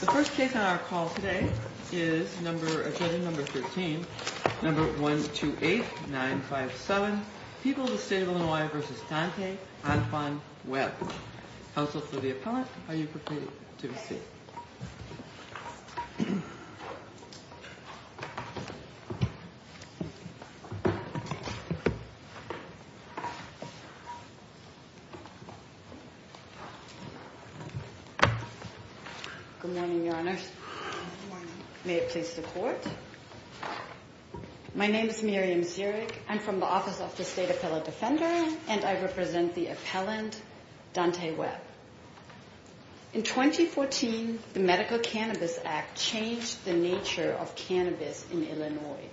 The first case on our call today is number 13 number 128957 People of the State of Illinois v. Dante Antoine Webb Counsel for the appellant, are you prepared to receive? My name is Miriam Zierig. I'm from the Office of the State Appellant Defender and I represent the appellant, Dante Webb. In 2014, the Medical Cannabis Act changed the nature of cannabis in Illinois.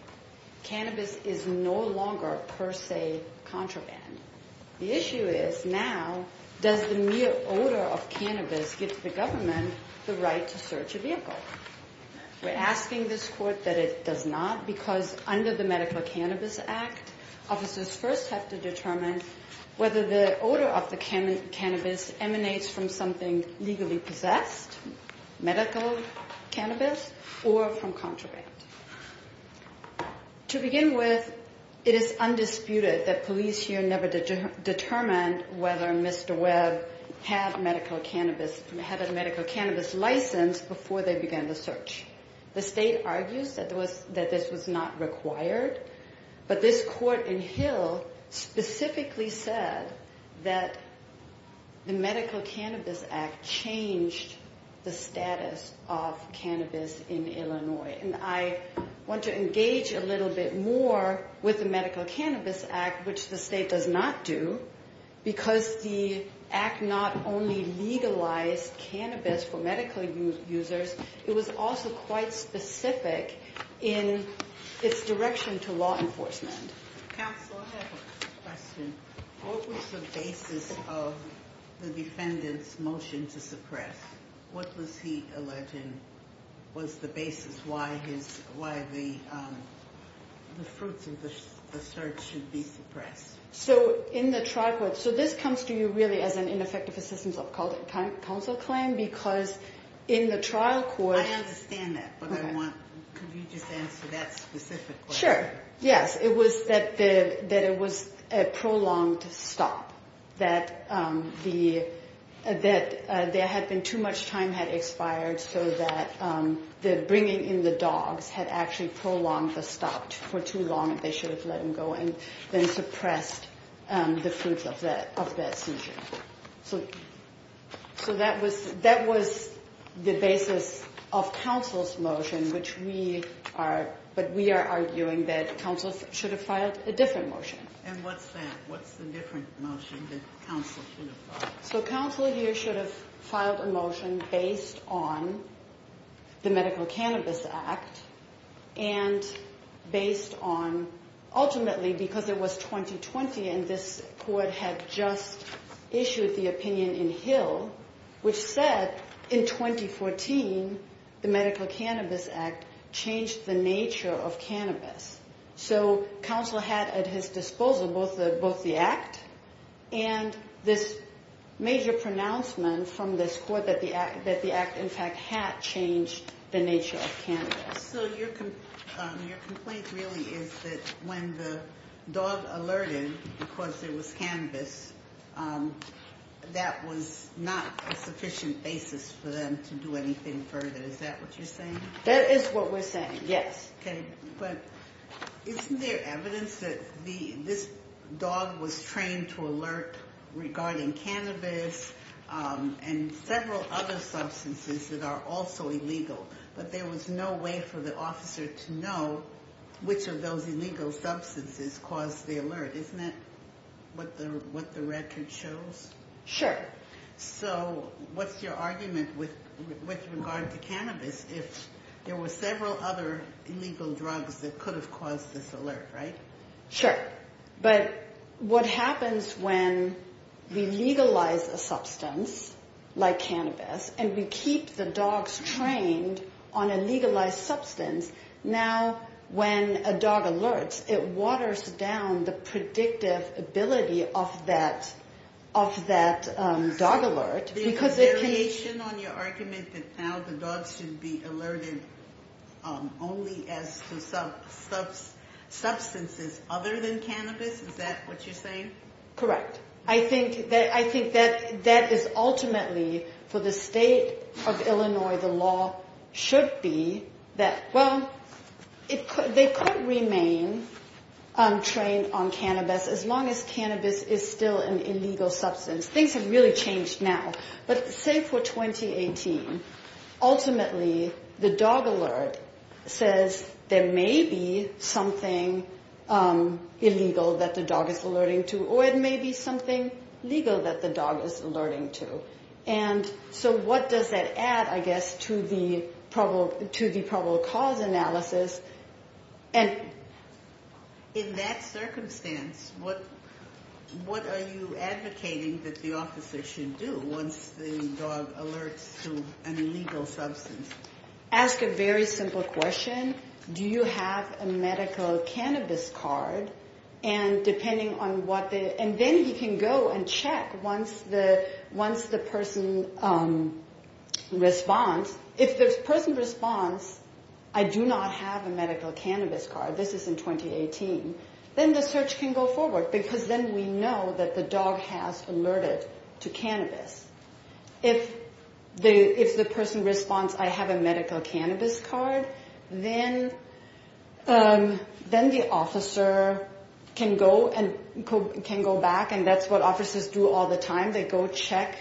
Cannabis is no longer, per se, contraband. The issue is now, does the mere odor of cannabis give the government the right to search a vehicle? We're asking this court that it does not because under the Medical Cannabis Act, officers first have to determine whether the odor of the cannabis emanates from something legally possessed, medical cannabis, or from contraband. To begin with, it is undisputed that police here never determined whether Mr. Webb had a medical cannabis license before they began the search. The state argues that this was not required, but this court in Hill specifically said that the Medical Cannabis Act changed the status of cannabis in Illinois. And I want to engage a little bit more with the Medical Cannabis Act, which the state does not do, because the act not only legalized cannabis for medical users, it was also quite specific in its direction to law enforcement. Counsel, I have a question. What was the basis of the defendant's motion to suppress? What was he alleging was the basis why the fruits of the search should be suppressed? So in the trial court, so this comes to you really as an ineffective assistance of counsel claim, because in the trial court... I understand that, but I want, could you just answer that specific question? Sure, yes. It was that it was a prolonged stop, that there had been too much time had expired so that the bringing in the dogs had actually prolonged the stop for too long. They should have let him go and then suppressed the fruits of that seizure. So that was the basis of counsel's motion, but we are arguing that counsel should have filed a different motion. And what's that? What's the different motion that counsel should have filed? So counsel here should have filed a motion based on the Medical Cannabis Act and based on, ultimately, because it was 2020 and this court had just issued the opinion in Hill, which said in 2014 the Medical Cannabis Act changed the nature of cannabis. So counsel had at his disposal both the act and this major pronouncement from this court that the act in fact had changed the nature of cannabis. So your complaint really is that when the dog alerted because there was cannabis, that was not a sufficient basis for them to do anything further. Is that what you're saying? That is what we're saying, yes. Okay, but isn't there evidence that this dog was trained to alert regarding cannabis and several other substances that are also illegal, but there was no way for the officer to know which of those illegal substances caused the alert. Isn't that what the record shows? Sure. So what's your argument with regard to cannabis if there were several other illegal drugs that could have caused this alert, right? Sure, but what happens when we legalize a substance like cannabis and we keep the dogs trained on a legalized substance, now when a dog alerts, it waters down the predictive ability of that dog alert. There's a variation on your argument that now the dogs should be alerted only as to substances other than cannabis. Is that what you're saying? Correct. I think that is ultimately for the state of Illinois, where the law should be that, well, they could remain trained on cannabis as long as cannabis is still an illegal substance. Things have really changed now, but say for 2018, ultimately the dog alert says there may be something illegal that the dog is alerting to or it may be something legal that the dog is alerting to. So what does that add, I guess, to the probable cause analysis? In that circumstance, what are you advocating that the officer should do once the dog alerts to an illegal substance? Ask a very simple question. Do you have a medical cannabis card? And then he can go and check once the person responds. If the person responds, I do not have a medical cannabis card, this is in 2018, then the search can go forward because then we know that the dog has alerted to cannabis. If the person responds, I have a medical cannabis card, then the officer can go back, and that's what officers do all the time. They go check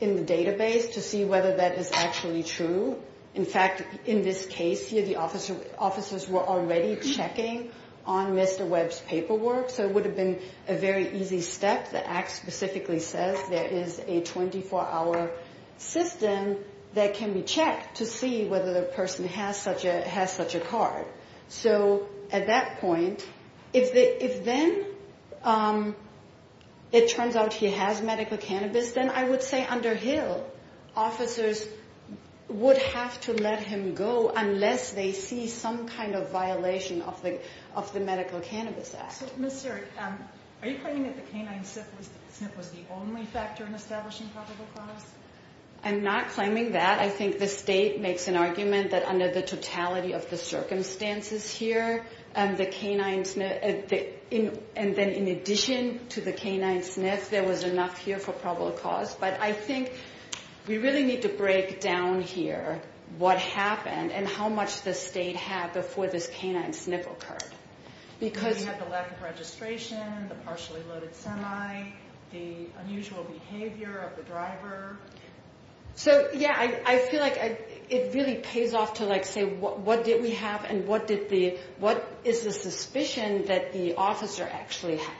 in the database to see whether that is actually true. In fact, in this case here, the officers were already checking on Mr. Webb's paperwork, so it would have been a very easy step. The act specifically says there is a 24-hour system that can be checked to see whether the person has such a card. So at that point, if then it turns out he has medical cannabis, then I would say under Hill, officers would have to let him go unless they see some kind of violation of the Medical Cannabis Act. Are you claiming that the canine sniff was the only factor in establishing probable cause? I'm not claiming that. I think the state makes an argument that under the totality of the circumstances here, and then in addition to the canine sniff, there was enough here for probable cause. But I think we really need to break down here what happened and how much the state had before this canine sniff occurred. We have the lack of registration, the partially loaded semi, the unusual behavior of the driver. So, yeah, I feel like it really pays off to say what did we have and what is the suspicion that the officer actually had.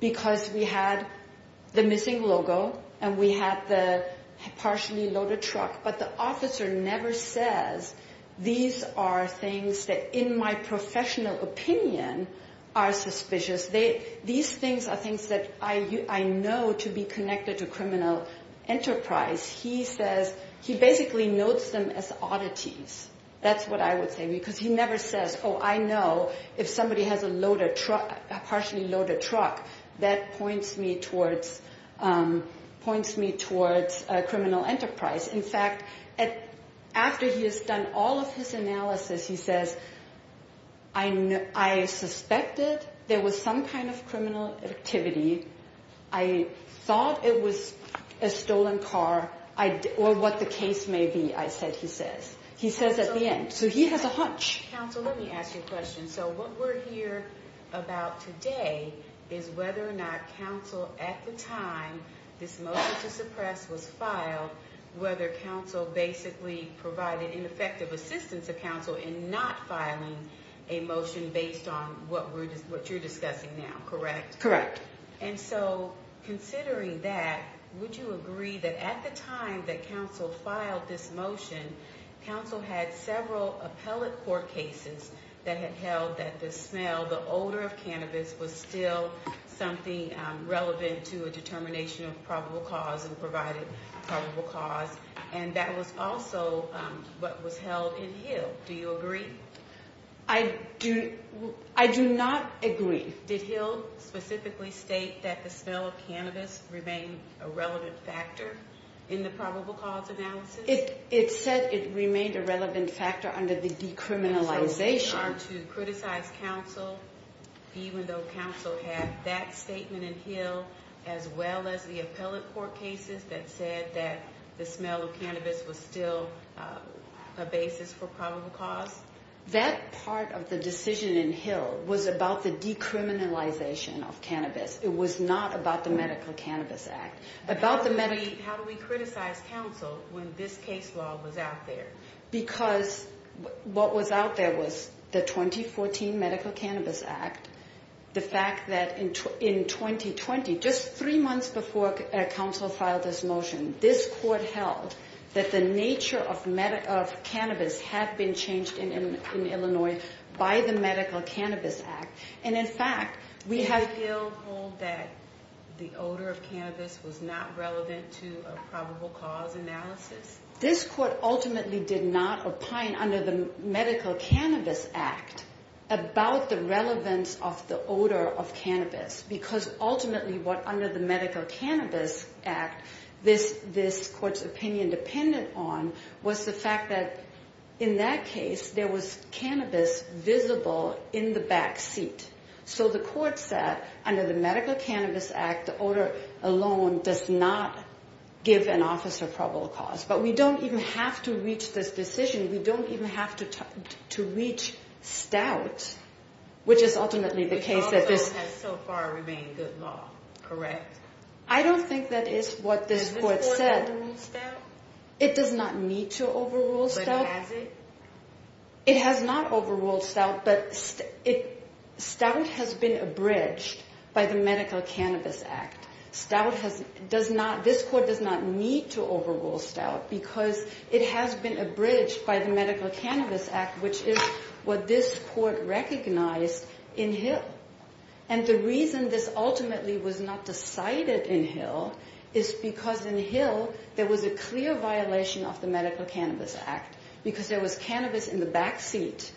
Because we had the missing logo and we had the partially loaded truck, but the officer never says these are things that in my professional opinion are suspicious. These things are things that I know to be connected to criminal enterprise. He says he basically notes them as oddities. That's what I would say because he never says, oh, I know if somebody has a partially loaded truck, that points me towards criminal enterprise. In fact, after he has done all of his analysis, he says, I suspected there was some kind of criminal activity. I thought it was a stolen car, or what the case may be, I said he says. He says at the end. So he has a hunch. Counsel, let me ask you a question. So what we're here about today is whether or not counsel at the time this motion to suppress was filed, whether counsel basically provided ineffective assistance to counsel in not filing a motion based on what you're discussing now, correct? Correct. And so considering that, would you agree that at the time that counsel filed this motion, counsel had several appellate court cases that had held that the smell, the odor of cannabis, was still something relevant to a determination of probable cause and provided probable cause, and that was also what was held in Hill. Do you agree? I do not agree. Did Hill specifically state that the smell of cannabis remained a relevant factor in the probable cause analysis? It said it remained a relevant factor under the decriminalization. And so we are to criticize counsel even though counsel had that statement in Hill as well as the appellate court cases that said that the smell of cannabis was still a basis for probable cause? That part of the decision in Hill was about the decriminalization of cannabis. It was not about the Medical Cannabis Act. How do we criticize counsel when this case law was out there? Because what was out there was the 2014 Medical Cannabis Act, the fact that in 2020, just three months before counsel filed this motion, this court held that the nature of cannabis had been changed in Illinois by the Medical Cannabis Act. Did Hill hold that the odor of cannabis was not relevant to a probable cause analysis? This court ultimately did not opine under the Medical Cannabis Act about the relevance of the odor of cannabis because ultimately what under the Medical Cannabis Act this court's opinion depended on was the fact that in that case, there was cannabis visible in the back seat. So the court said under the Medical Cannabis Act, the odor alone does not give an officer probable cause. But we don't even have to reach this decision. We don't even have to reach stout, which is ultimately the case that this… Which also has so far remained good law, correct? I don't think that is what this court said. Does this court have to reach stout? It does not need to overrule stout. But has it? It has not overruled stout, but stout has been abridged by the Medical Cannabis Act. Stout has… does not… this court does not need to overrule stout because it has been abridged by the Medical Cannabis Act, which is what this court recognized in Hill. And the reason this ultimately was not decided in Hill is because in Hill, there was a clear violation of the Medical Cannabis Act because there was cannabis in the back seat.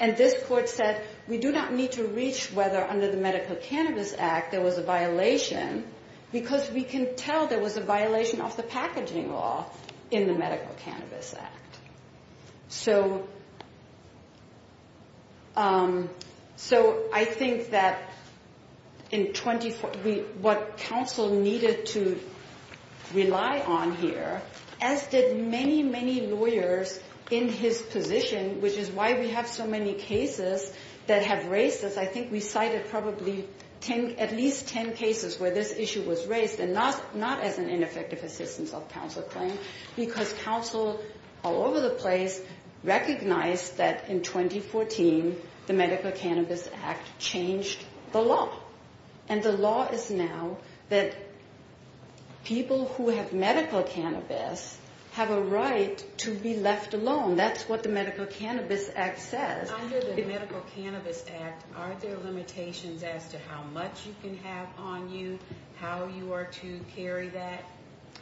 And this court said we do not need to reach whether under the Medical Cannabis Act there was a violation because we can tell there was a violation of the packaging law in the Medical Cannabis Act. So… So I think that in 24… what counsel needed to rely on here, as did many, many lawyers in his position, which is why we have so many cases that have raised this. I think we cited probably 10… at least 10 cases where this issue was raised and not as an ineffective assistance of counsel claim because counsel all over the place recognized that in 2014, the Medical Cannabis Act changed the law. And the law is now that people who have medical cannabis have a right to be left alone. That's what the Medical Cannabis Act says. Under the Medical Cannabis Act, are there limitations as to how much you can have on you, how you are to carry that?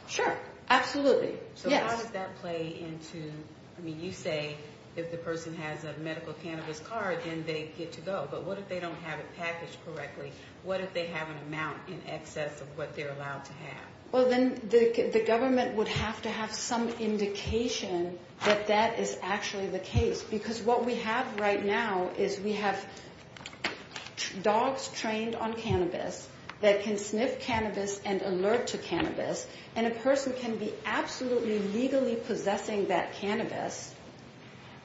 Sure. Absolutely. Yes. So how does that play into… I mean, you say if the person has a medical cannabis card, then they get to go. But what if they don't have it packaged correctly? What if they have an amount in excess of what they're allowed to have? Well, then the government would have to have some indication that that is actually the case because what we have right now is we have dogs trained on cannabis that can sniff cannabis and alert to cannabis. And a person can be absolutely legally possessing that cannabis.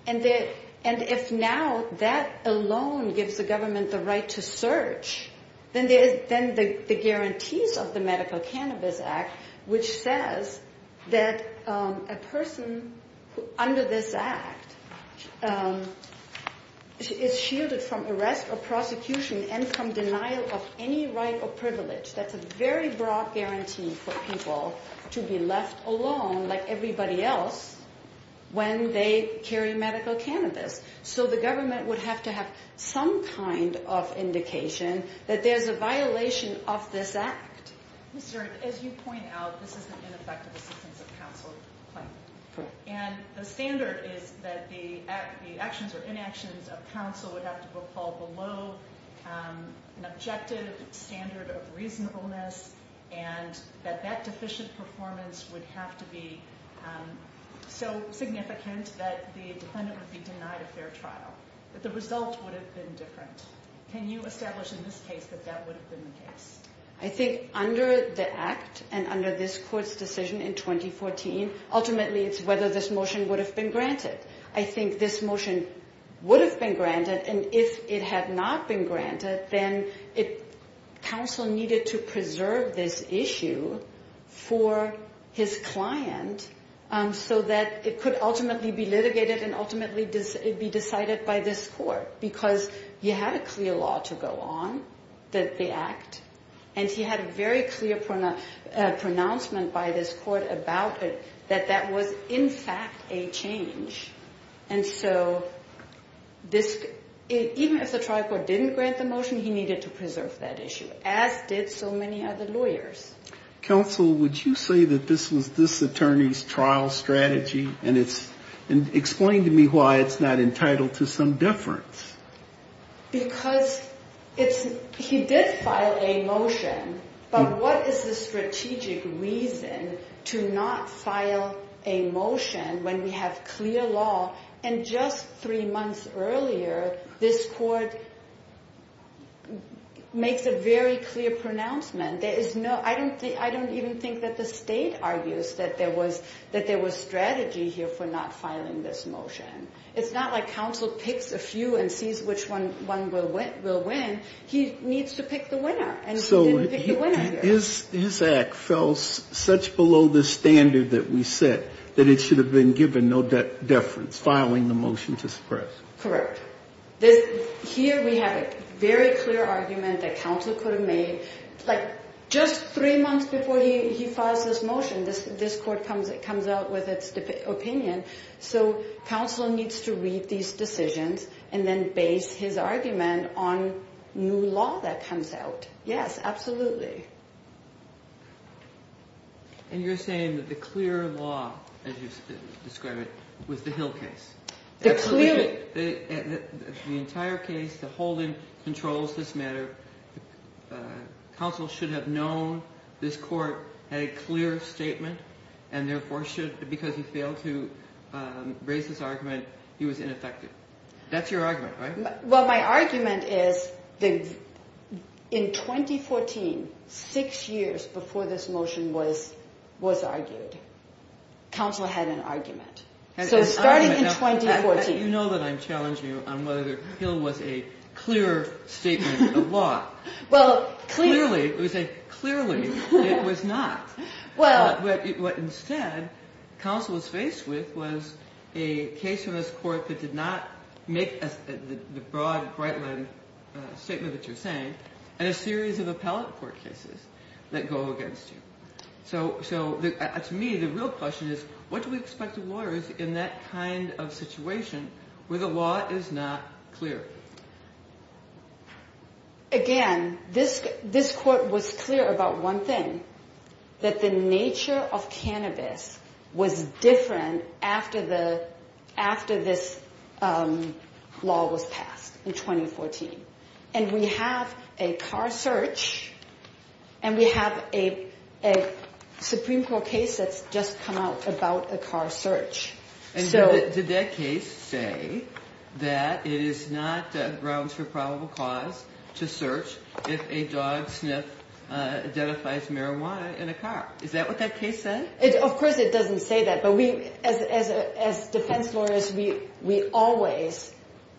And if now that alone gives the government the right to search, then the guarantees of the Medical Cannabis Act, which says that a person under this act is shielded from arrest or prosecution and from denial of any right or privilege. That's a very broad guarantee for people to be left alone like everybody else when they carry medical cannabis. So the government would have to have some kind of indication that there's a violation of this act. As you point out, this is an ineffective assistance of counsel claim. Correct. And the standard is that the actions or inactions of counsel would have to fall below an objective standard of reasonableness and that that deficient performance would have to be so significant that the defendant would be denied a fair trial. But the result would have been different. Can you establish in this case that that would have been the case? I think under the act and under this court's decision in 2014, ultimately it's whether this motion would have been granted. I think this motion would have been granted. And if it had not been granted, then counsel needed to preserve this issue for his client so that it could ultimately be litigated and ultimately be decided by this court because you had a clear law to go on, the act. And he had a very clear pronouncement by this court about it that that was in fact a change. And so even if the trial court didn't grant the motion, he needed to preserve that issue, as did so many other lawyers. Counsel, would you say that this was this attorney's trial strategy? And explain to me why it's not entitled to some deference. Because he did file a motion, but what is the strategic reason to not file a motion when we have clear law? And just three months earlier, this court makes a very clear pronouncement. I don't even think that the state argues that there was strategy here for not filing this motion. It's not like counsel picks a few and sees which one will win. He needs to pick the winner, and he didn't pick the winner here. So his act fell such below the standard that we set that it should have been given no deference, filing the motion to suppress. Correct. Here we have a very clear argument that counsel could have made. Like, just three months before he files this motion, this court comes out with its opinion. So counsel needs to read these decisions and then base his argument on new law that comes out. Yes, absolutely. And you're saying that the clear law, as you describe it, was the Hill case. The entire case, the holding controls this matter. Counsel should have known this court had a clear statement and therefore should, because he failed to raise this argument, he was ineffective. That's your argument, right? Well, my argument is that in 2014, six years before this motion was argued, counsel had an argument. So starting in 2014. You know that I'm challenging you on whether the Hill was a clear statement of law. Well, clearly. Clearly. It was a clearly. It was not. Well. But instead, counsel was faced with was a case from this court that did not make the broad, bright-lined statement that you're saying, and a series of appellate court cases that go against you. So to me, the real question is, what do we expect the lawyers in that kind of situation where the law is not clear? Again, this court was clear about one thing, that the nature of cannabis was different after this law was passed in 2014. And we have a car search, and we have a Supreme Court case that's just come out about a car search. And did that case say that it is not grounds for probable cause to search if a dog sniff identifies marijuana in a car? Is that what that case said? Of course, it doesn't say that. But we, as defense lawyers, we always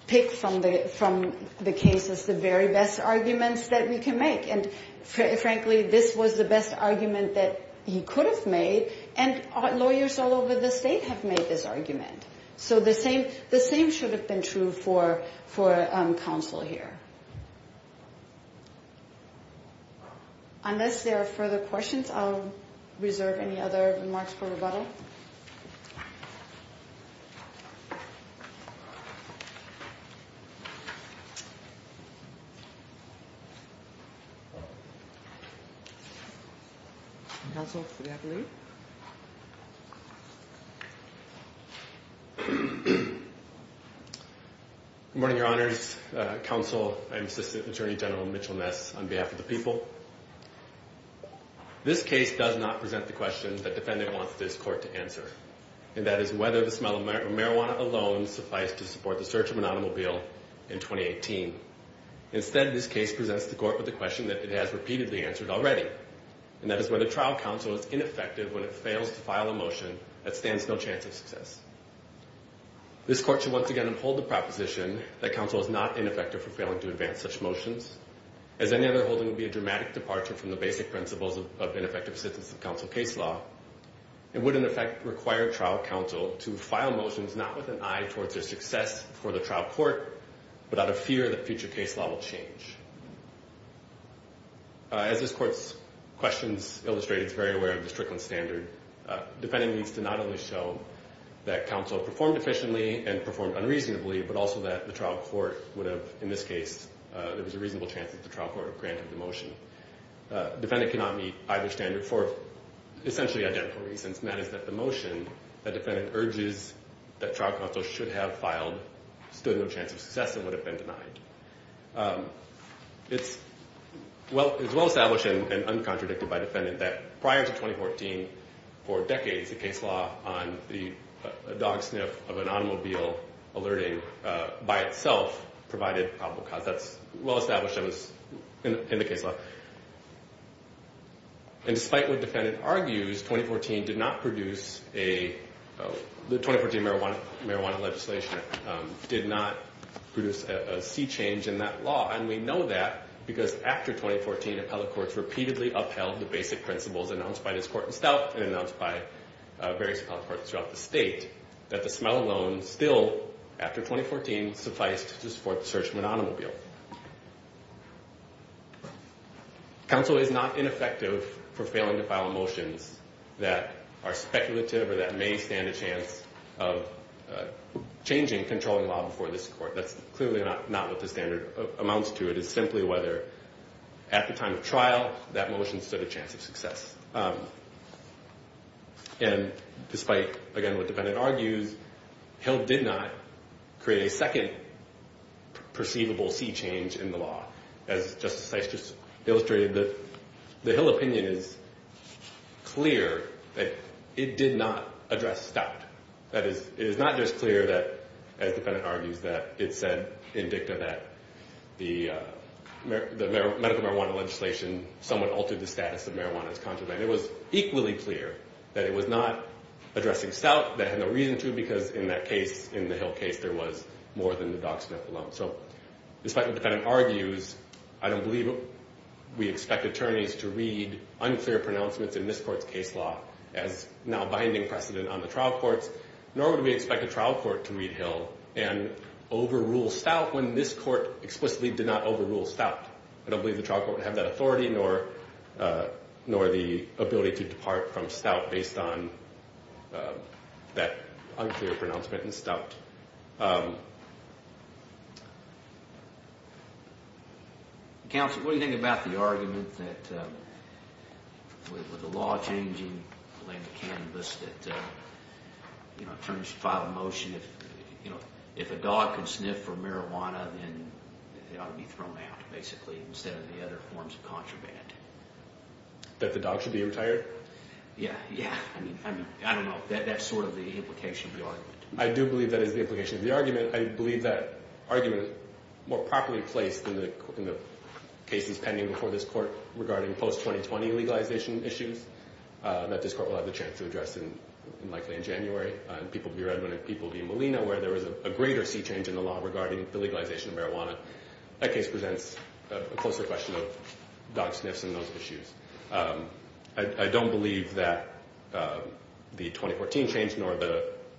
pick from the cases the very best arguments that we can make. And, frankly, this was the best argument that he could have made, and lawyers all over the state have made this argument. So the same should have been true for counsel here. Unless there are further questions, I'll reserve any other remarks for rebuttal. Counsel, do we have a lead? Good morning, Your Honors. Counsel, I'm Assistant Attorney General Mitchell Ness on behalf of the people. This case does not present the question that the defendant wants this court to answer, and that is whether the smell of marijuana alone suffice to support the search of an automobile in 2018. Instead, this case presents the court with a question that it has repeatedly answered already, and that is whether trial counsel is ineffective or not. If trial counsel is ineffective when it fails to file a motion, that stands no chance of success. This court should once again uphold the proposition that counsel is not ineffective for failing to advance such motions, as any other holding would be a dramatic departure from the basic principles of ineffective assistance of counsel case law, and would, in effect, require trial counsel to file motions not with an eye towards their success for the trial court, but out of fear that future case law will change. As this court's questions illustrate, it's very aware of the Strickland standard. Defendant needs to not only show that counsel performed efficiently and performed unreasonably, but also that the trial court would have, in this case, there was a reasonable chance that the trial court granted the motion. Defendant cannot meet either standard for essentially identical reasons, and that is that the motion that defendant urges that trial counsel should have filed stood no chance of success and would have been denied. It's well-established and uncontradicted by defendant that prior to 2014, for decades, the case law on the dog sniff of an automobile alerting by itself provided probable cause. That's well-established in the case law. And despite what defendant argues, 2014 did not produce a – And we know that because after 2014, appellate courts repeatedly upheld the basic principles announced by this court in stealth and announced by various appellate courts throughout the state, that the smell alone still, after 2014, sufficed to support the search of an automobile. Counsel is not ineffective for failing to file motions that are speculative or that may stand a chance of changing controlling law before this court. That's clearly not what the standard amounts to. It is simply whether at the time of trial, that motion stood a chance of success. And despite, again, what defendant argues, Hill did not create a second perceivable sea change in the law. As Justice Sykes just illustrated, the Hill opinion is clear that it did not address stout. That is, it is not just clear that, as defendant argues, that it said in dicta that the medical marijuana legislation somewhat altered the status of marijuana as contraband. It was equally clear that it was not addressing stout, that had no reason to, because in that case, in the Hill case, there was more than the dog sniff alone. So despite what defendant argues, I don't believe we expect attorneys to read unclear pronouncements in this court's case law as now binding precedent on the trial courts, nor would we expect a trial court to read Hill and overrule stout when this court explicitly did not overrule stout. I don't believe the trial court would have that authority, nor the ability to depart from stout based on that unclear pronouncement in stout. Counsel, what do you think about the argument that with the law changing, related to cannabis, that attorneys should file a motion, if a dog can sniff for marijuana, then it ought to be thrown out, basically, instead of the other forms of contraband. That the dog should be retired? Yeah, yeah. I mean, I don't know. That's sort of the implication of the argument. I do believe that is the implication of the argument. I believe that argument, more properly placed in the cases pending before this court, regarding post-2020 legalization issues, that this court will have the chance to address, likely in January, in People v. Redmond and People v. Molina, where there was a greater sea change in the law regarding the legalization of marijuana. That case presents a closer question of dog sniffs and those issues. I don't believe that the 2014 change, nor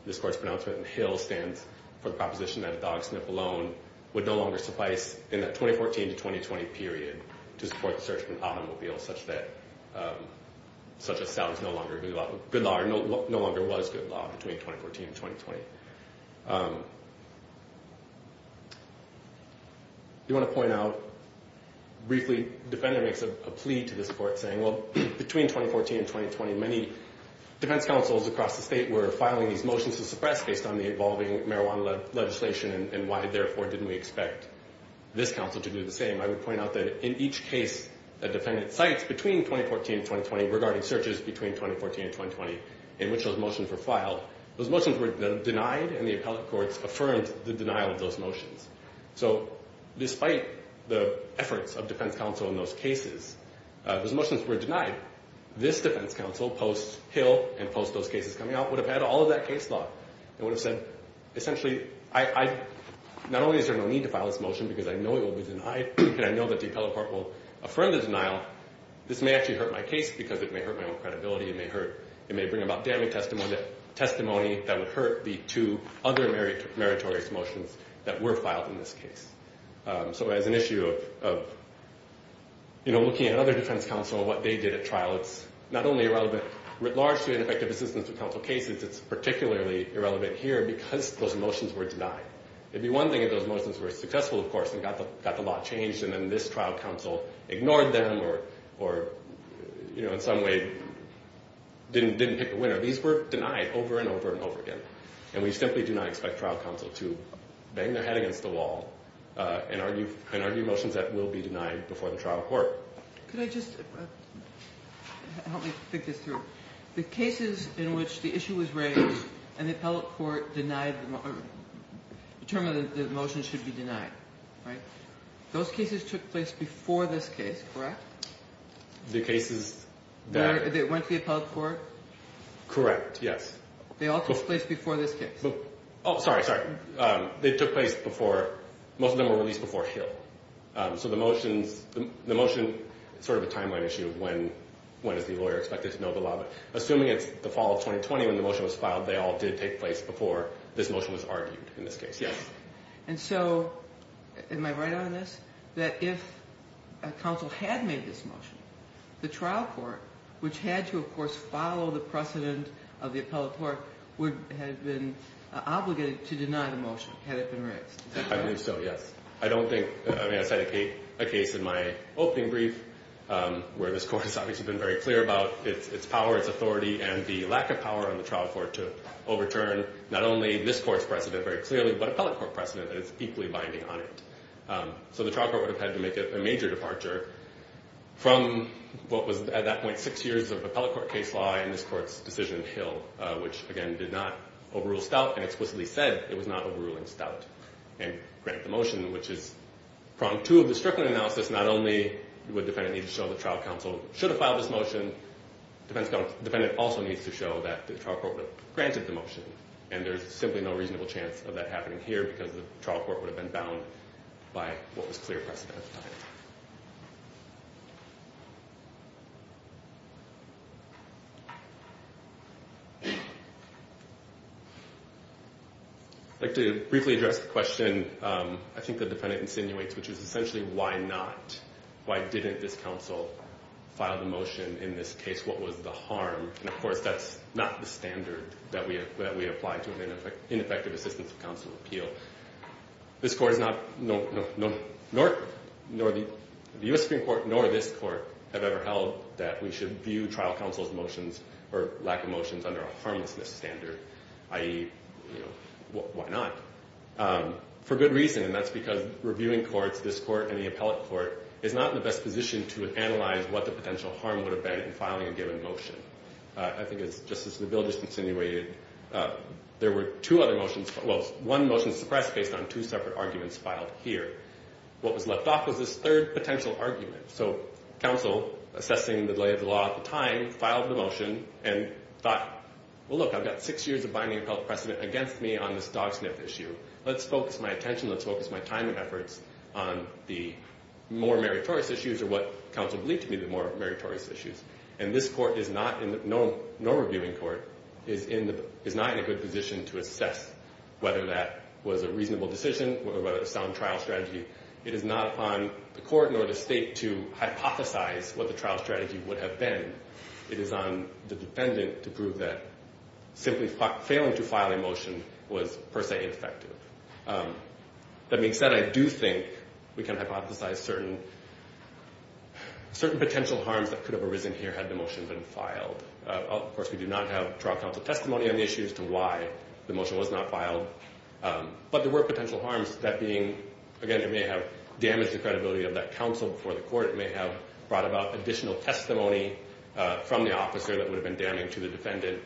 this court's pronouncement in Hill, stands for the proposition that a dog sniff alone would no longer suffice, in that 2014 to 2020 period, to support the search for an automobile, such that stout was no longer good law, or no longer was good law, between 2014 and 2020. I do want to point out, briefly, the defendant makes a plea to this court, saying, well, between 2014 and 2020, many defense counsels across the state were filing these motions to suppress, based on the evolving marijuana legislation, and why, therefore, didn't we expect this counsel to do the same. I would point out that in each case the defendant cites, between 2014 and 2020, regarding searches between 2014 and 2020, in which those motions were filed, those motions were denied, and the appellate courts affirmed the denial of those motions. So, despite the efforts of defense counsel in those cases, those motions were denied. This defense counsel, post-Hill and post-those cases coming out, would have had all of that case law. It would have said, essentially, not only is there no need to file this motion, because I know it will be denied, and I know that the appellate court will affirm the denial, this may actually hurt my case, because it may hurt my own credibility, it may bring about damning testimony that would hurt the two other meritorious motions that were filed in this case. So, as an issue of looking at other defense counsel and what they did at trial, it's not only irrelevant, largely, in effective assistance to counsel cases, it's particularly irrelevant here because those motions were denied. It would be one thing if those motions were successful, of course, and got the law changed, and then this trial counsel ignored them or, you know, in some way didn't pick a winner. These were denied over and over and over again, and we simply do not expect trial counsel to bang their head against the wall and argue motions that will be denied before the trial court. Could I just help me think this through? The cases in which the issue was raised and the appellate court denied the motion, determined that the motion should be denied, right? Those cases took place before this case, correct? The cases that – That went to the appellate court? Correct, yes. They all took place before this case? Oh, sorry, sorry. They took place before – most of them were released before Hill. So the motions – the motion is sort of a timeline issue of when is the lawyer expected to know the law, but assuming it's the fall of 2020 when the motion was filed, they all did take place before this motion was argued in this case, yes. And so am I right on this, that if a counsel had made this motion, the trial court, which had to, of course, follow the precedent of the appellate court, would have been obligated to deny the motion had it been raised? I believe so, yes. I don't think – I mean, I said a case in my opening brief where this court has obviously been very clear about its power, its authority, and the lack of power on the trial court to overturn not only this court's precedent very clearly but appellate court precedent that is equally binding on it. So the trial court would have had to make a major departure from what was at that point six years of appellate court case law in this court's decision in Hill, which, again, did not overrule Stout and explicitly said it was not overruling Stout and grant the motion, which is prong two of the Strickland analysis. Not only would the defendant need to show the trial counsel should have filed this motion, the defendant also needs to show that the trial court would have granted the motion, and there's simply no reasonable chance of that happening here because the trial court would have been bound by what was clear precedent at the time. I'd like to briefly address the question I think the defendant insinuates, which is essentially why not? Why didn't this counsel file the motion in this case? What was the harm? And, of course, that's not the standard that we apply to an ineffective assistance of counsel appeal. This court is not, nor the U.S. Supreme Court, nor this court have ever held that we should view trial counsel's motions or lack of motions under a harmlessness standard, i.e., you know, why not? For good reason, and that's because reviewing courts, this court and the appellate court, is not in the best position to analyze what the potential harm would have been in filing a given motion. I think it's just as the bill just insinuated. There were two other motions, well, one motion suppressed based on two separate arguments filed here. What was left off was this third potential argument. So counsel, assessing the delay of the law at the time, filed the motion and thought, well, look, I've got six years of binding appellate precedent against me on this dog sniff issue. Let's focus my attention, let's focus my time and efforts on the more meritorious issues or what counsel believed to be the more meritorious issues. And this court is not, nor reviewing court, is not in a good position to assess whether that was a reasonable decision or whether it was a sound trial strategy. It is not upon the court nor the state to hypothesize what the trial strategy would have been. It is on the defendant to prove that simply failing to file a motion was per se ineffective. That being said, I do think we can hypothesize certain potential harms that could have arisen here had the motion been filed. Of course, we do not have trial counsel testimony on the issues to why the motion was not filed. But there were potential harms, that being, again, it may have damaged the credibility of that counsel before the court, it may have brought about additional testimony from the officer that would have been damning to the defendant.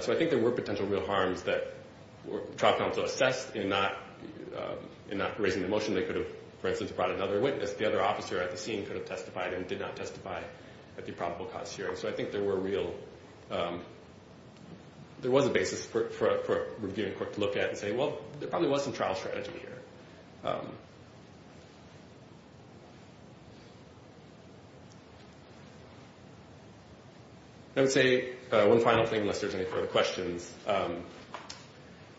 So I think there were potential real harms that trial counsel assessed in not raising the motion. They could have, for instance, brought another witness. The other officer at the scene could have testified and did not testify at the probable cause hearing. So I think there were real, there was a basis for a reviewing court to look at and say, well, there probably was some trial strategy here. I would say one final thing unless there's any further questions.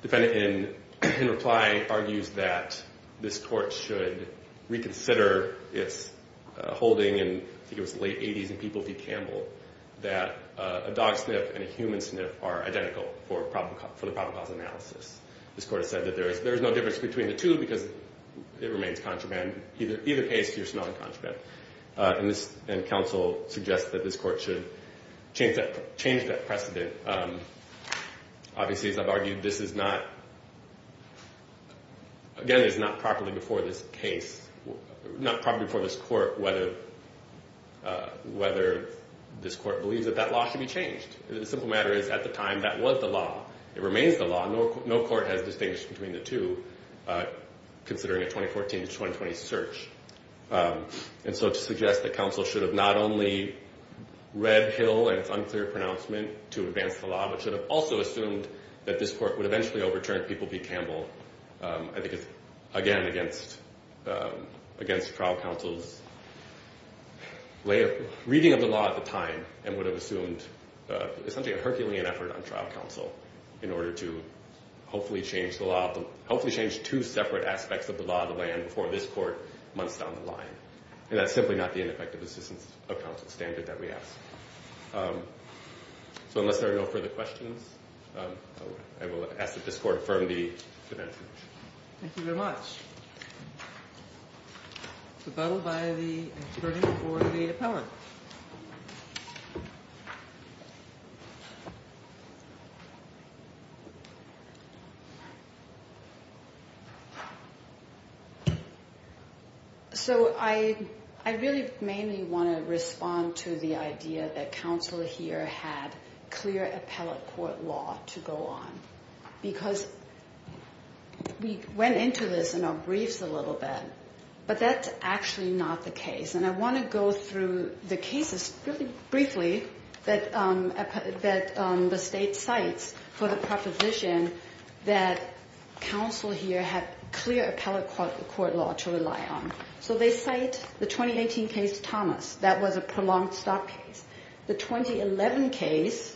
Defendant in reply argues that this court should reconsider its holding in, I think it was the late 80s in People v. Campbell, that a dog sniff and a human sniff are identical for the probable cause analysis. This court has said that there is no difference between the two because it remains contraband. Either case, you're smelling contraband. And counsel suggests that this court should change that precedent. Obviously, as I've argued, this is not, again, it's not properly before this case, not properly before this court whether this court believes that that law should be changed. The simple matter is at the time, that was the law. It remains the law. No court has distinguished between the two considering a 2014 to 2020 search. And so to suggest that counsel should have not only read Hill and its unclear pronouncement to advance the law, but should have also assumed that this court would eventually overturn People v. Campbell, I think it's, again, against trial counsel's reading of the law at the time and would have assumed essentially a Herculean effort on trial counsel in order to hopefully change the law, hopefully change two separate aspects of the law of the land before this court months down the line. And that's simply not the ineffective assistance of counsel standard that we ask. So unless there are no further questions, I will ask that this court affirm the defense. Thank you very much. The vote by the attorney for the appellate. So I really mainly want to respond to the idea that counsel here had clear appellate court law to go on. Because we went into this in our briefs a little bit, but that's actually not the case. And I want to go through the cases really briefly that the state cites for the proposition that counsel here had clear appellate court law to rely on. So they cite the 2018 case, Thomas. That was a prolonged stock case. The 2011 case,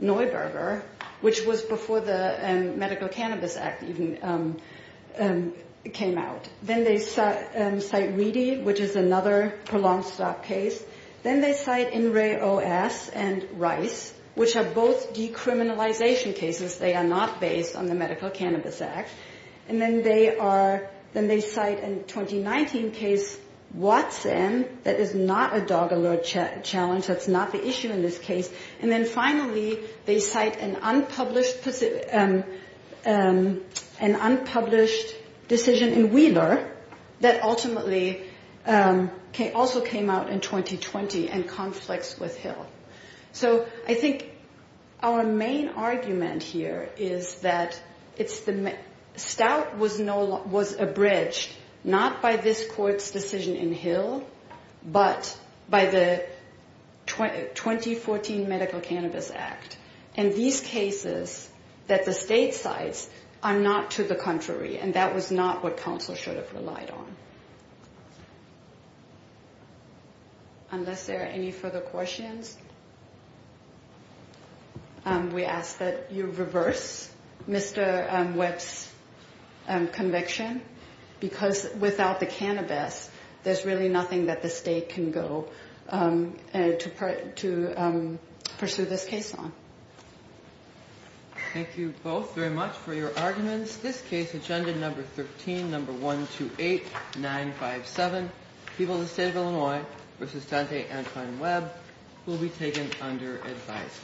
Neuberger, which was before the Medical Cannabis Act even came out. Then they cite Reedy, which is another prolonged stock case. Then they cite NREA-OS and Rice, which are both decriminalization cases. They are not based on the Medical Cannabis Act. And then they cite a 2019 case, Watson. That is not a dog alert challenge. That's not the issue in this case. And then finally, they cite an unpublished decision in Wheeler that ultimately also came out in 2020 and conflicts with Hill. So I think our main argument here is that stout was abridged not by this court's decision in Hill, but by the 2014 Medical Cannabis Act. And these cases that the state cites are not to the contrary. And that was not what counsel should have relied on. Unless there are any further questions, we ask that you reverse Mr. Webb's conviction. Because without the cannabis, there's really nothing that the state can go to pursue this case on. Thank you both very much for your arguments. In this case, agenda number 13, number 128957, People of the State of Illinois versus Dante Antoine Webb will be taken under advice.